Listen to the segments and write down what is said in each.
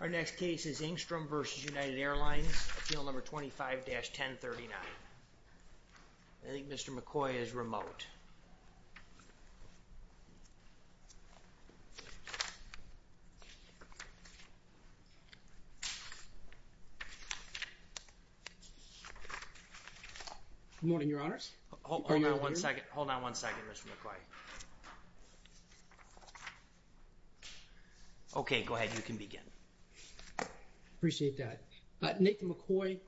Our next case is Engstrom v. United Airlines, appeal number 25-1039. I think Mr. McCoy is remote. Good morning, Your Honors. Hold on one second. Hold on one second, Mr. McCoy. Okay, go ahead. You can begin. I appreciate that. Nathan McCoy,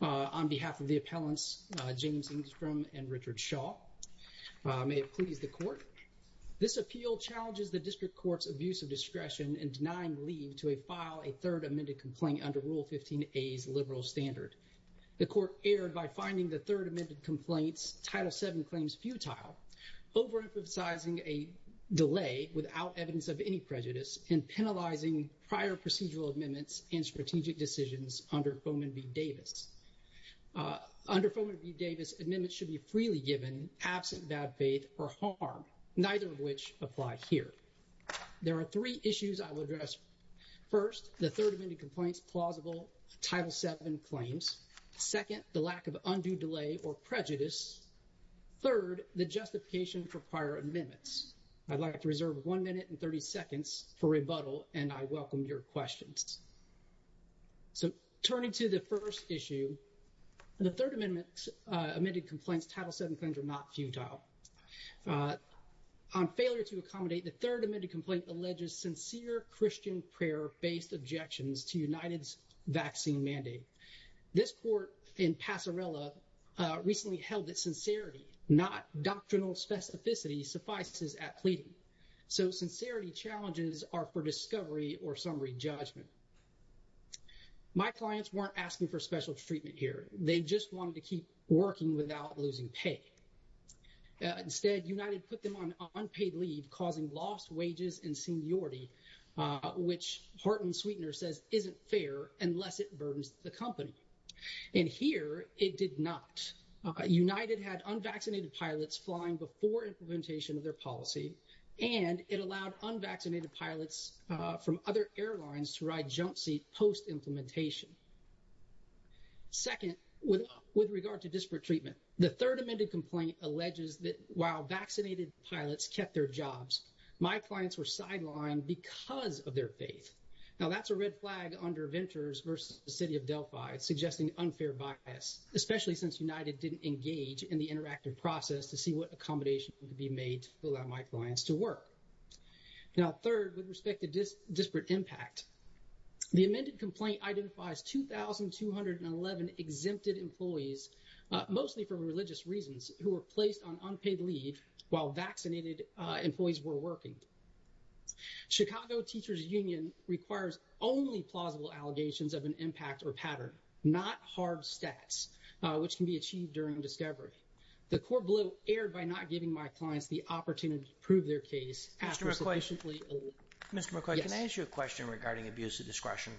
on behalf of the appellants, James Engstrom and Richard Shaw. May it please the Court. This appeal challenges the District Court's abuse of discretion in denying leave to a file a third amended complaint under Rule 15a's liberal standard. The Court erred by finding the third amended complaint's Title VII claims futile. Overemphasizing a delay without evidence of any prejudice and penalizing prior procedural amendments and strategic decisions under Foman v. Davis. Under Foman v. Davis, amendments should be freely given absent bad faith or harm, neither of which apply here. There are three issues I will address. First, the third amended complaint's plausible Title VII claims. Second, the lack of undue delay or prejudice. Third, the justification for prior amendments. I'd like to reserve one minute and 30 seconds for rebuttal, and I welcome your questions. So turning to the first issue, the third amended complaint's Title VII claims are not futile. On failure to accommodate, the third amended complaint alleges sincere Christian prayer-based objections to United's vaccine mandate. This court in Passarella recently held that sincerity, not doctrinal specificity, suffices at pleading. So sincerity challenges are for discovery or summary judgment. My clients weren't asking for special treatment here. They just wanted to keep working without losing pay. Instead, United put them on unpaid leave, causing lost wages and seniority, which Horton-Sweetner says isn't fair unless it burdens the company. And here it did not. United had unvaccinated pilots flying before implementation of their policy, and it allowed unvaccinated pilots from other airlines to ride jump seat post-implementation. Second, with regard to disparate treatment, the third amended complaint alleges that while vaccinated pilots kept their jobs, my clients were sidelined because of their faith. Now, that's a red flag under Ventures versus the City of Delphi, suggesting unfair bias, especially since United didn't engage in the interactive process to see what accommodation could be made to allow my clients to work. Now, third, with respect to disparate impact, the amended complaint identifies 2,211 exempted employees, mostly for religious reasons, who were placed on unpaid leave while vaccinated employees were working. Chicago Teachers Union requires only plausible allegations of an impact or pattern, not hard stats, which can be achieved during discovery. The court blew air by not giving my clients the opportunity to prove their case after sufficiently... Mr. McCoy, can I ask you a question regarding abuse of discretion?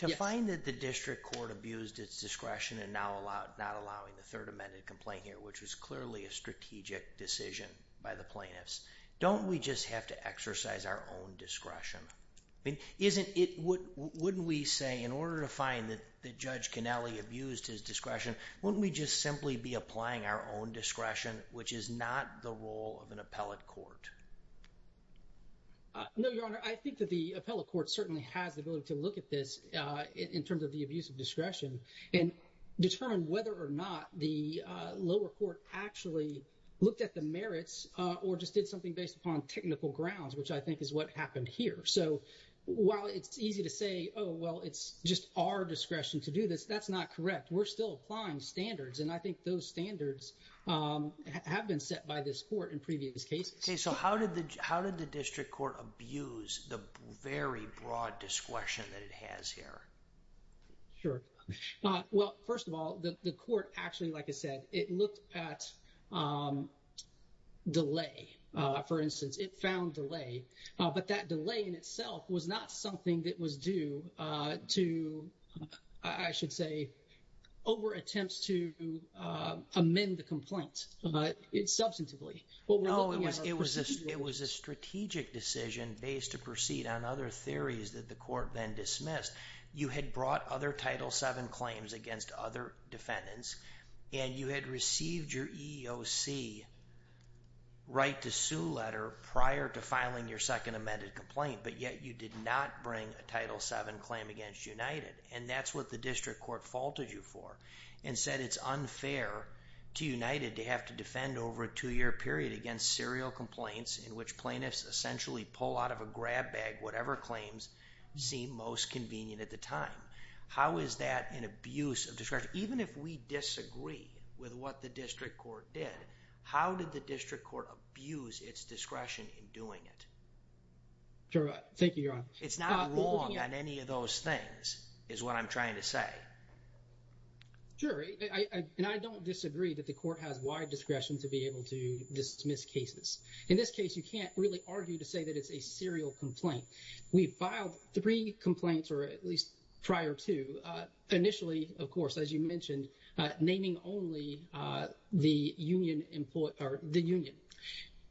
Yes. To find that the district court abused its discretion in not allowing the third amended complaint here, which was clearly a strategic decision by the plaintiffs, don't we just have to exercise our own discretion? Wouldn't we say in order to find that Judge Connelly abused his discretion, wouldn't we just simply be applying our own discretion, which is not the role of an appellate court? No, Your Honor, I think that the appellate court certainly has the ability to look at this in terms of the abuse of discretion and determine whether or not the lower court actually looked at the merits or just did something based upon technical grounds, which I think is what happened here. So while it's easy to say, oh, well, it's just our discretion to do this, that's not correct. We're still applying standards, and I think those standards have been set by this court in previous cases. Okay, so how did the district court abuse the very broad discretion that it has here? Sure. Well, first of all, the court actually, like I said, it looked at delay. For instance, it found delay, but that delay in itself was not something that was due to, I should say, over attempts to amend the complaint substantively. No, it was a strategic decision based to proceed on other theories that the court then dismissed. You had brought other Title VII claims against other defendants, and you had received your EEOC right to sue letter prior to filing your second amended complaint, but yet you did not bring a Title VII claim against United. And that's what the district court faulted you for and said it's unfair to United to have to defend over a two-year period against serial complaints in which plaintiffs essentially pull out of a grab bag whatever claims seem most convenient at the time. How is that an abuse of discretion? Even if we disagree with what the district court did, how did the district court abuse its discretion in doing it? Sure. Thank you, Your Honor. It's not wrong on any of those things is what I'm trying to say. Jury, and I don't disagree that the court has wide discretion to be able to dismiss cases. In this case, you can't really argue to say that it's a serial complaint. We filed three complaints, or at least prior to, initially, of course, as you mentioned, naming only the union.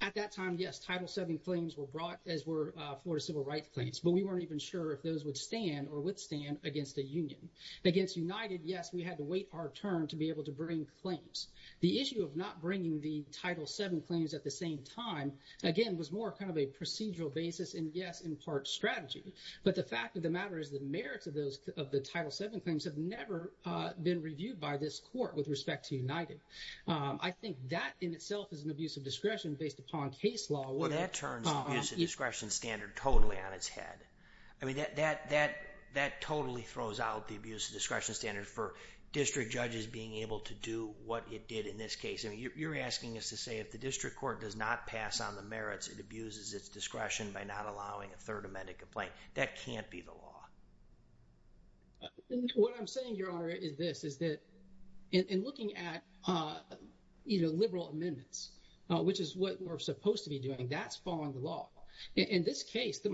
At that time, yes, Title VII claims were brought as were Florida civil rights claims, but we weren't even sure if those would stand or withstand against a union. Against United, yes, we had to wait our turn to be able to bring claims. The issue of not bringing the Title VII claims at the same time, again, was more kind of a procedural basis and, yes, in part strategy. But the fact of the matter is the merits of the Title VII claims have never been reviewed by this court with respect to United. I think that in itself is an abuse of discretion based upon case law. Well, that turns the abuse of discretion standard totally on its head. I mean, that totally throws out the abuse of discretion standard for district judges being able to do what it did in this case. I mean, you're asking us to say if the district court does not pass on the merits, it abuses its discretion by not allowing a Third Amendment complaint. That can't be the law. What I'm saying, Your Honor, is this, is that in looking at either liberal amendments, which is what we're supposed to be doing, that's following the law. In this case,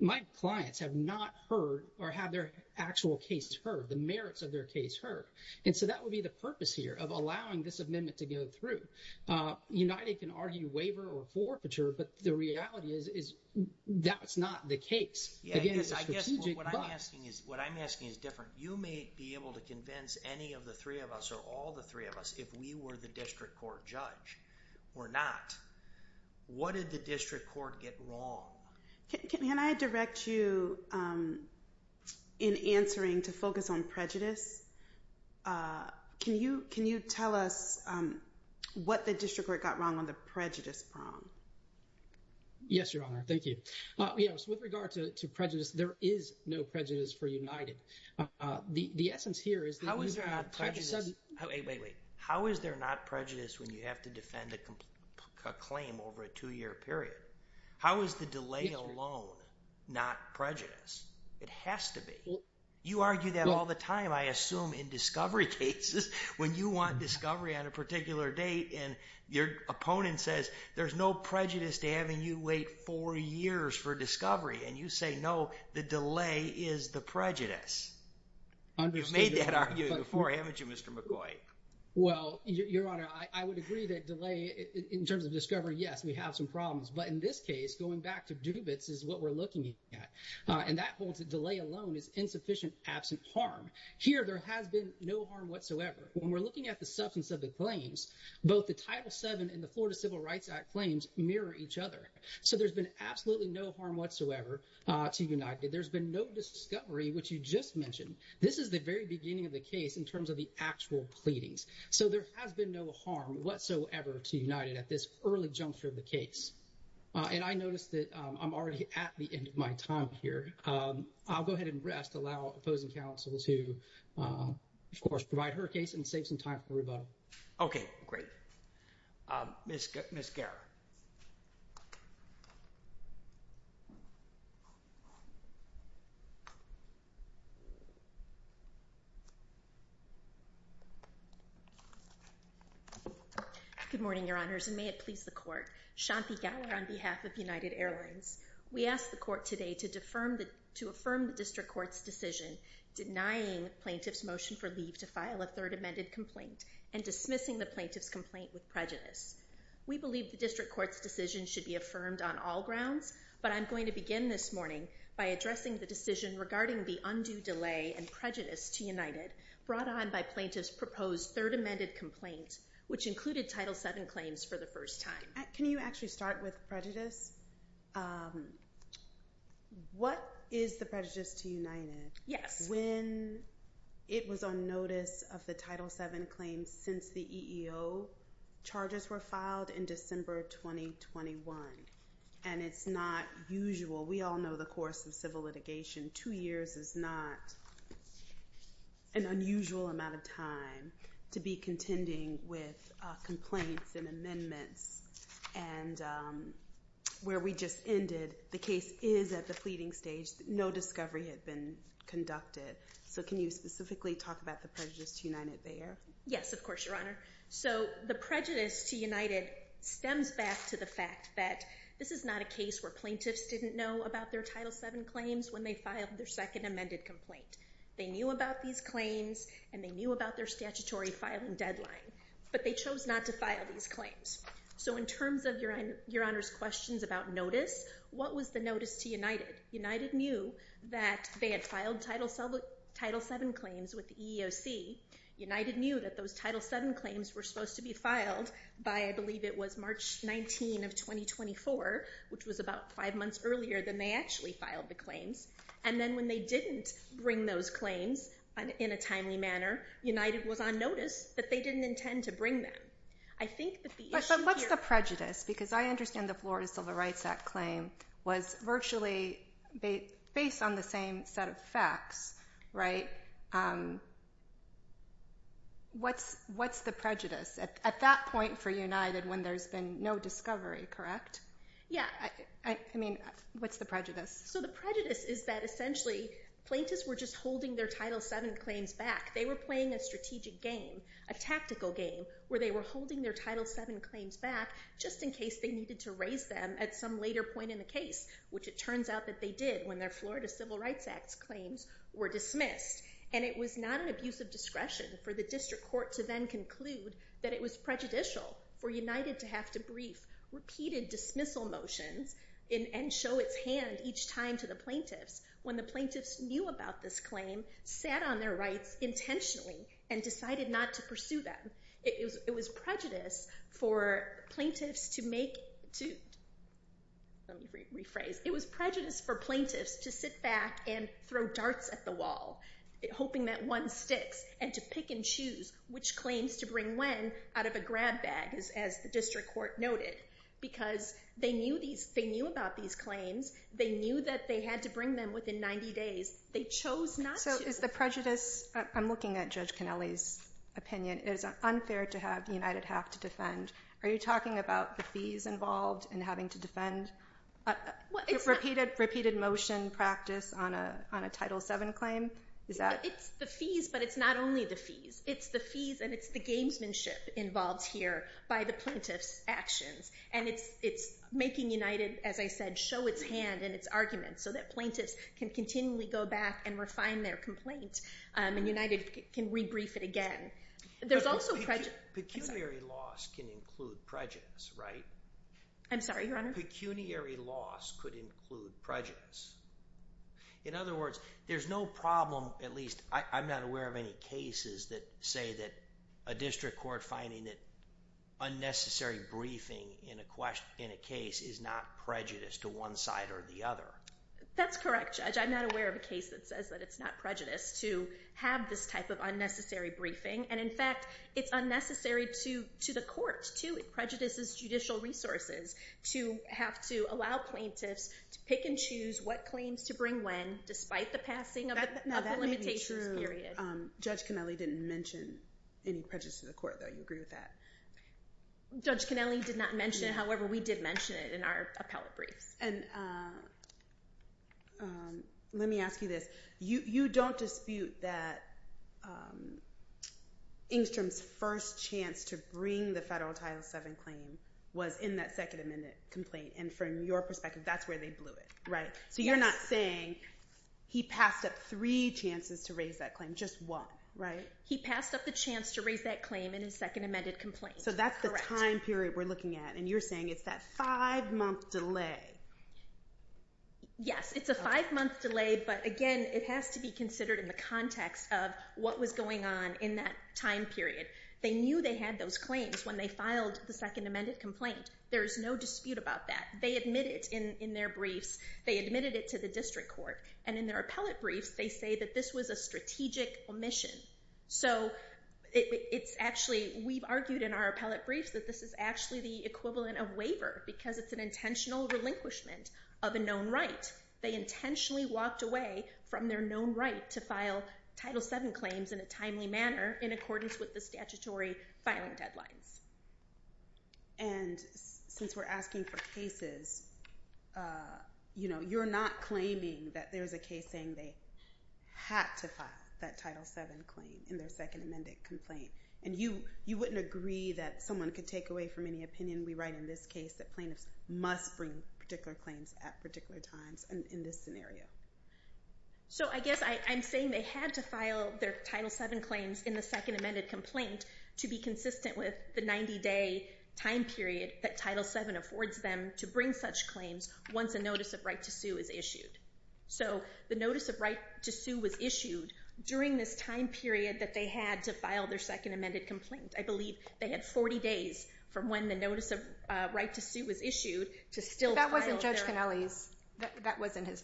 my clients have not heard or have their actual case heard, the merits of their case heard. And so that would be the purpose here of allowing this amendment to go through. United can argue waiver or forfeiture, but the reality is that's not the case. What I'm asking is different. You may be able to convince any of the three of us or all the three of us if we were the district court judge or not. What did the district court get wrong? Can I direct you in answering to focus on prejudice? Can you tell us what the district court got wrong on the prejudice prong? Yes, Your Honor. Thank you. Yes, with regard to prejudice, there is no prejudice for United. The essence here is— How is there not prejudice? Wait, wait, wait. How is there not prejudice when you have to defend a claim over a two-year period? How is the delay alone not prejudice? It has to be. You argue that all the time, I assume, in discovery cases. When you want discovery on a particular date and your opponent says there's no prejudice to having you wait four years for discovery and you say no, the delay is the prejudice. You've made that argument before, haven't you, Mr. McCoy? Well, Your Honor, I would agree that delay in terms of discovery, yes, we have some problems. But in this case, going back to Dubitz is what we're looking at. And that holds that delay alone is insufficient absent harm. Here, there has been no harm whatsoever. When we're looking at the substance of the claims, both the Title VII and the Florida Civil Rights Act claims mirror each other. So there's been absolutely no harm whatsoever to United. There's been no discovery, which you just mentioned. This is the very beginning of the case in terms of the actual pleadings. So there has been no harm whatsoever to United at this early juncture of the case. And I notice that I'm already at the end of my time here. I'll go ahead and rest, allow opposing counsel to, of course, provide her case and save some time for rebuttal. Okay, great. Ms. Garrett. Good morning, Your Honors, and may it please the Court. Shanti Garrett on behalf of United Airlines. We ask the Court today to affirm the district court's decision denying plaintiff's motion for leave to file a third amended complaint and dismissing the plaintiff's complaint with prejudice. We believe the district court's decision should be affirmed on all grounds, but I'm going to begin this morning by addressing the decision regarding the undue delay and prejudice to United brought on by plaintiff's proposed third amended complaint, which included Title VII claims for the first time. Can you actually start with prejudice? What is the prejudice to United? Yes. When it was on notice of the Title VII claims since the EEO, charges were filed in December 2021. And it's not usual. We all know the course of civil litigation. Two years is not an unusual amount of time to be contending with complaints and amendments. And where we just ended, the case is at the pleading stage. No discovery had been conducted. So can you specifically talk about the prejudice to United there? Yes, of course, Your Honor. So the prejudice to United stems back to the fact that this is not a case where plaintiffs didn't know about their Title VII claims when they filed their second amended complaint. They knew about these claims and they knew about their statutory filing deadline. But they chose not to file these claims. So in terms of Your Honor's questions about notice, what was the notice to United? United knew that they had filed Title VII claims with the EEOC. United knew that those Title VII claims were supposed to be filed by, I believe it was March 19 of 2024, which was about five months earlier than they actually filed the claims. And then when they didn't bring those claims in a timely manner, United was on notice that they didn't intend to bring them. But what's the prejudice? Because I understand the Florida Civil Rights Act claim was virtually based on the same set of facts, right? What's the prejudice? At that point for United when there's been no discovery, correct? Yeah. I mean, what's the prejudice? So the prejudice is that essentially plaintiffs were just holding their Title VII claims back. They were playing a strategic game, a tactical game, where they were holding their Title VII claims back just in case they needed to raise them at some later point in the case, which it turns out that they did when their Florida Civil Rights Act claims were dismissed. And it was not an abuse of discretion for the district court to then conclude that it was prejudicial for United to have to brief repeated dismissal motions and show its hand each time to the plaintiffs when the plaintiffs knew about this claim, sat on their rights intentionally, and decided not to pursue them. It was prejudice for plaintiffs to sit back and throw darts at the wall, hoping that one sticks, and to pick and choose which claims to bring when out of a grab bag, as the district court noted. Because they knew about these claims. They knew that they had to bring them within 90 days. They chose not to. I'm looking at Judge Connelly's opinion. It is unfair to have United have to defend. Are you talking about the fees involved in having to defend repeated motion practice on a Title VII claim? It's the fees, but it's not only the fees. It's the fees, and it's the gamesmanship involved here by the plaintiffs' actions. And it's making United, as I said, show its hand in its arguments so that plaintiffs can continually go back and refine their complaint, and United can rebrief it again. There's also prejudice. Pecuniary loss can include prejudice, right? I'm sorry, Your Honor? Pecuniary loss could include prejudice. In other words, there's no problem, at least I'm not aware of any cases, that say that a district court finding that unnecessary briefing in a case is not prejudice to one side or the other. That's correct, Judge. I'm not aware of a case that says that it's not prejudice to have this type of unnecessary briefing. And, in fact, it's unnecessary to the court, too. It prejudices judicial resources to have to allow plaintiffs to pick and choose what claims to bring when, despite the passing of the limitations period. Judge Cannelli didn't mention any prejudice to the court, though. You agree with that? Judge Cannelli did not mention it. However, we did mention it in our appellate briefs. And let me ask you this. You don't dispute that Engstrom's first chance to bring the Federal Title VII claim was in that Second Amendment complaint, and from your perspective, that's where they blew it, right? Yes. You're not saying he passed up three chances to raise that claim, just one, right? He passed up the chance to raise that claim in his Second Amendment complaint. Correct. So that's the time period we're looking at, and you're saying it's that five-month delay. Yes, it's a five-month delay, but, again, it has to be considered in the context of what was going on in that time period. They knew they had those claims when they filed the Second Amendment complaint. There is no dispute about that. They admitted it in their briefs. They admitted it to the district court, and in their appellate briefs, they say that this was a strategic omission. So it's actually we've argued in our appellate briefs that this is actually the equivalent of waiver because it's an intentional relinquishment of a known right. They intentionally walked away from their known right to file Title VII claims in a timely manner in accordance with the statutory filing deadlines. And since we're asking for cases, you know, you're not claiming that there's a case saying they had to file that Title VII claim in their Second Amendment complaint. And you wouldn't agree that someone could take away from any opinion we write in this case that plaintiffs must bring particular claims at particular times in this scenario. So I guess I'm saying they had to file their Title VII claims in the Second Amendment complaint to be consistent with the 90-day time period that Title VII affords them to bring such claims once a notice of right to sue is issued. So the notice of right to sue was issued during this time period that they had to file their Second Amendment complaint. I believe they had 40 days from when the notice of right to sue was issued to still file their…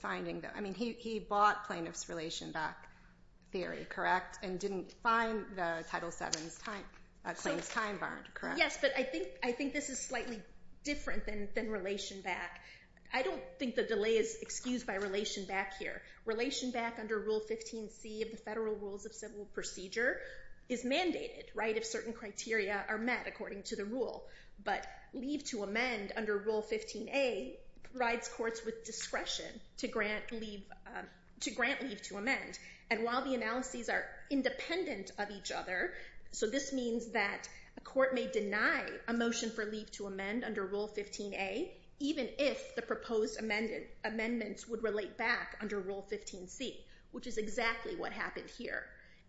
I mean, he bought plaintiff's Relation Back theory, correct, and didn't find the Title VII claims time-barred, correct? Yes, but I think this is slightly different than Relation Back. I don't think the delay is excused by Relation Back here. Relation Back under Rule 15c of the Federal Rules of Civil Procedure is mandated, right, if certain criteria are met according to the rule. But leave to amend under Rule 15a provides courts with discretion to grant leave to amend. And while the analyses are independent of each other, so this means that a court may deny a motion for leave to amend under Rule 15a, even if the proposed amendments would relate back under Rule 15c, which is exactly what happened here.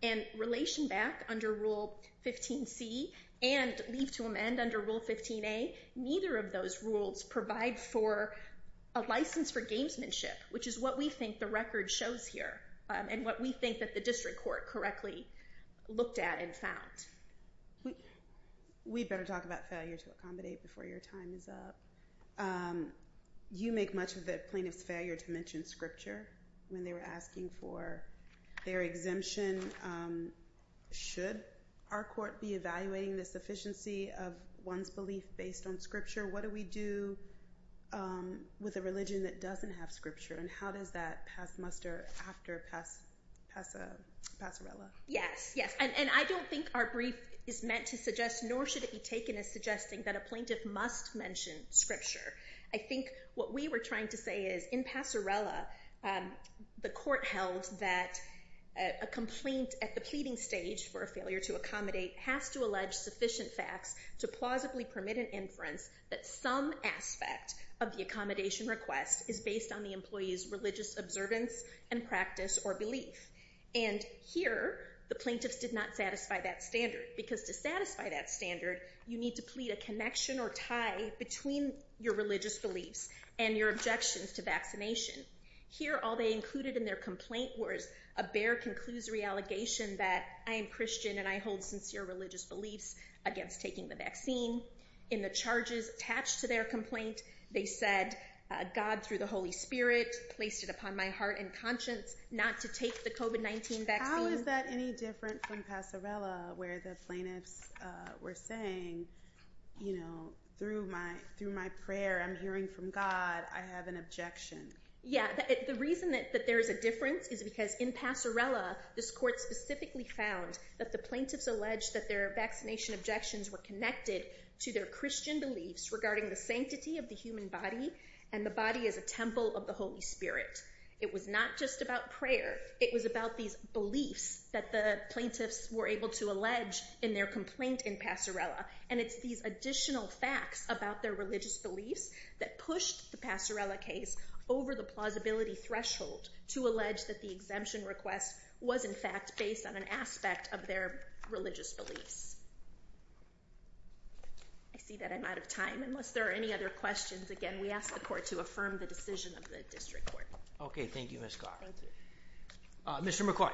And Relation Back under Rule 15c and leave to amend under Rule 15a, neither of those rules provide for a license for gamesmanship, which is what we think the record shows here and what we think that the district court correctly looked at and found. We'd better talk about failure to accommodate before your time is up. You make much of the plaintiff's failure to mention Scripture when they were asking for their exemption. Should our court be evaluating the sufficiency of one's belief based on Scripture? What do we do with a religion that doesn't have Scripture, and how does that muster after Passorella? Yes, yes, and I don't think our brief is meant to suggest, nor should it be taken as suggesting, that a plaintiff must mention Scripture. I think what we were trying to say is in Passorella, the court held that a complaint at the pleading stage for a failure to accommodate has to allege sufficient facts to plausibly permit an inference that some aspect of the accommodation request is based on the employee's religious observance and practice or belief. And here, the plaintiffs did not satisfy that standard, because to satisfy that standard, you need to plead a connection or tie between your religious beliefs and your objections to vaccination. Here, all they included in their complaint was a bare conclusory allegation that I am Christian and I hold sincere religious beliefs against taking the vaccine. In the charges attached to their complaint, they said God, through the Holy Spirit, placed it upon my heart and conscience not to take the COVID-19 vaccine. How is that any different from Passorella, where the plaintiffs were saying, you know, through my prayer, I'm hearing from God, I have an objection? Yeah, the reason that there is a difference is because in Passorella, this court specifically found that the plaintiffs alleged that their vaccination objections were connected to their Christian beliefs regarding the sanctity of the human body and the body as a temple of the Holy Spirit. It was not just about prayer. It was about these beliefs that the plaintiffs were able to allege in their complaint in Passorella. And it's these additional facts about their religious beliefs that pushed the Passorella case over the plausibility threshold to allege that the exemption request was, in fact, based on an aspect of their religious beliefs. I see that I'm out of time. Unless there are any other questions, again, we ask the court to affirm the decision of the district court. Okay. Thank you, Ms. Carr. Thank you. Mr. McCoy.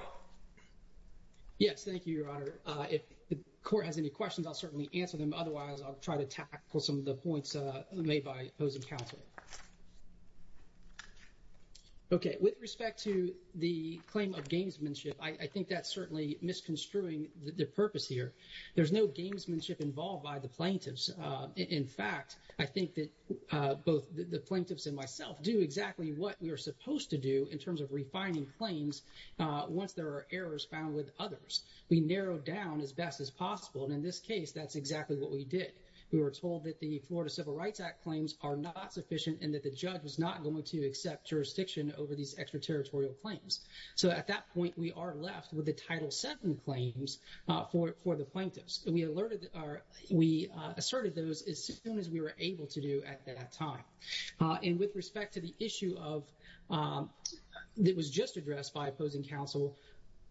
Yes. Thank you, Your Honor. If the court has any questions, I'll certainly answer them. Otherwise, I'll try to tackle some of the points made by opposing counsel. Okay. With respect to the claim of gamesmanship, I think that's certainly misconstruing the purpose here. There's no gamesmanship involved by the plaintiffs. In fact, I think that both the plaintiffs and myself do exactly what we are supposed to do in terms of refining claims once there are errors found with others. We narrow down as best as possible. And in this case, that's exactly what we did. We were told that the Florida Civil Rights Act claims are not sufficient and that the judge was not going to accept jurisdiction over these extraterritorial claims. So at that point, we are left with the Title VII claims for the plaintiffs. And we asserted those as soon as we were able to do at that time. And with respect to the issue that was just addressed by opposing counsel,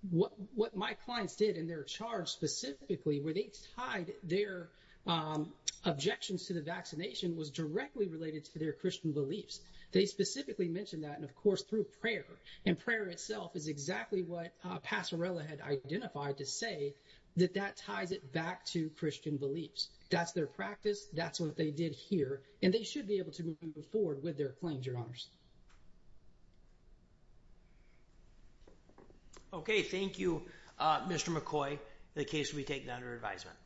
what my clients did in their charge specifically where they tied their objections to the vaccination was directly related to their Christian beliefs. They specifically mentioned that, and, of course, through prayer. And prayer itself is exactly what Passerella had identified to say that that ties it back to Christian beliefs. That's their practice. That's what they did here. And they should be able to move forward with their claims, Your Honors. Okay. Thank you, Mr. McCoy, for the case we take under advisement.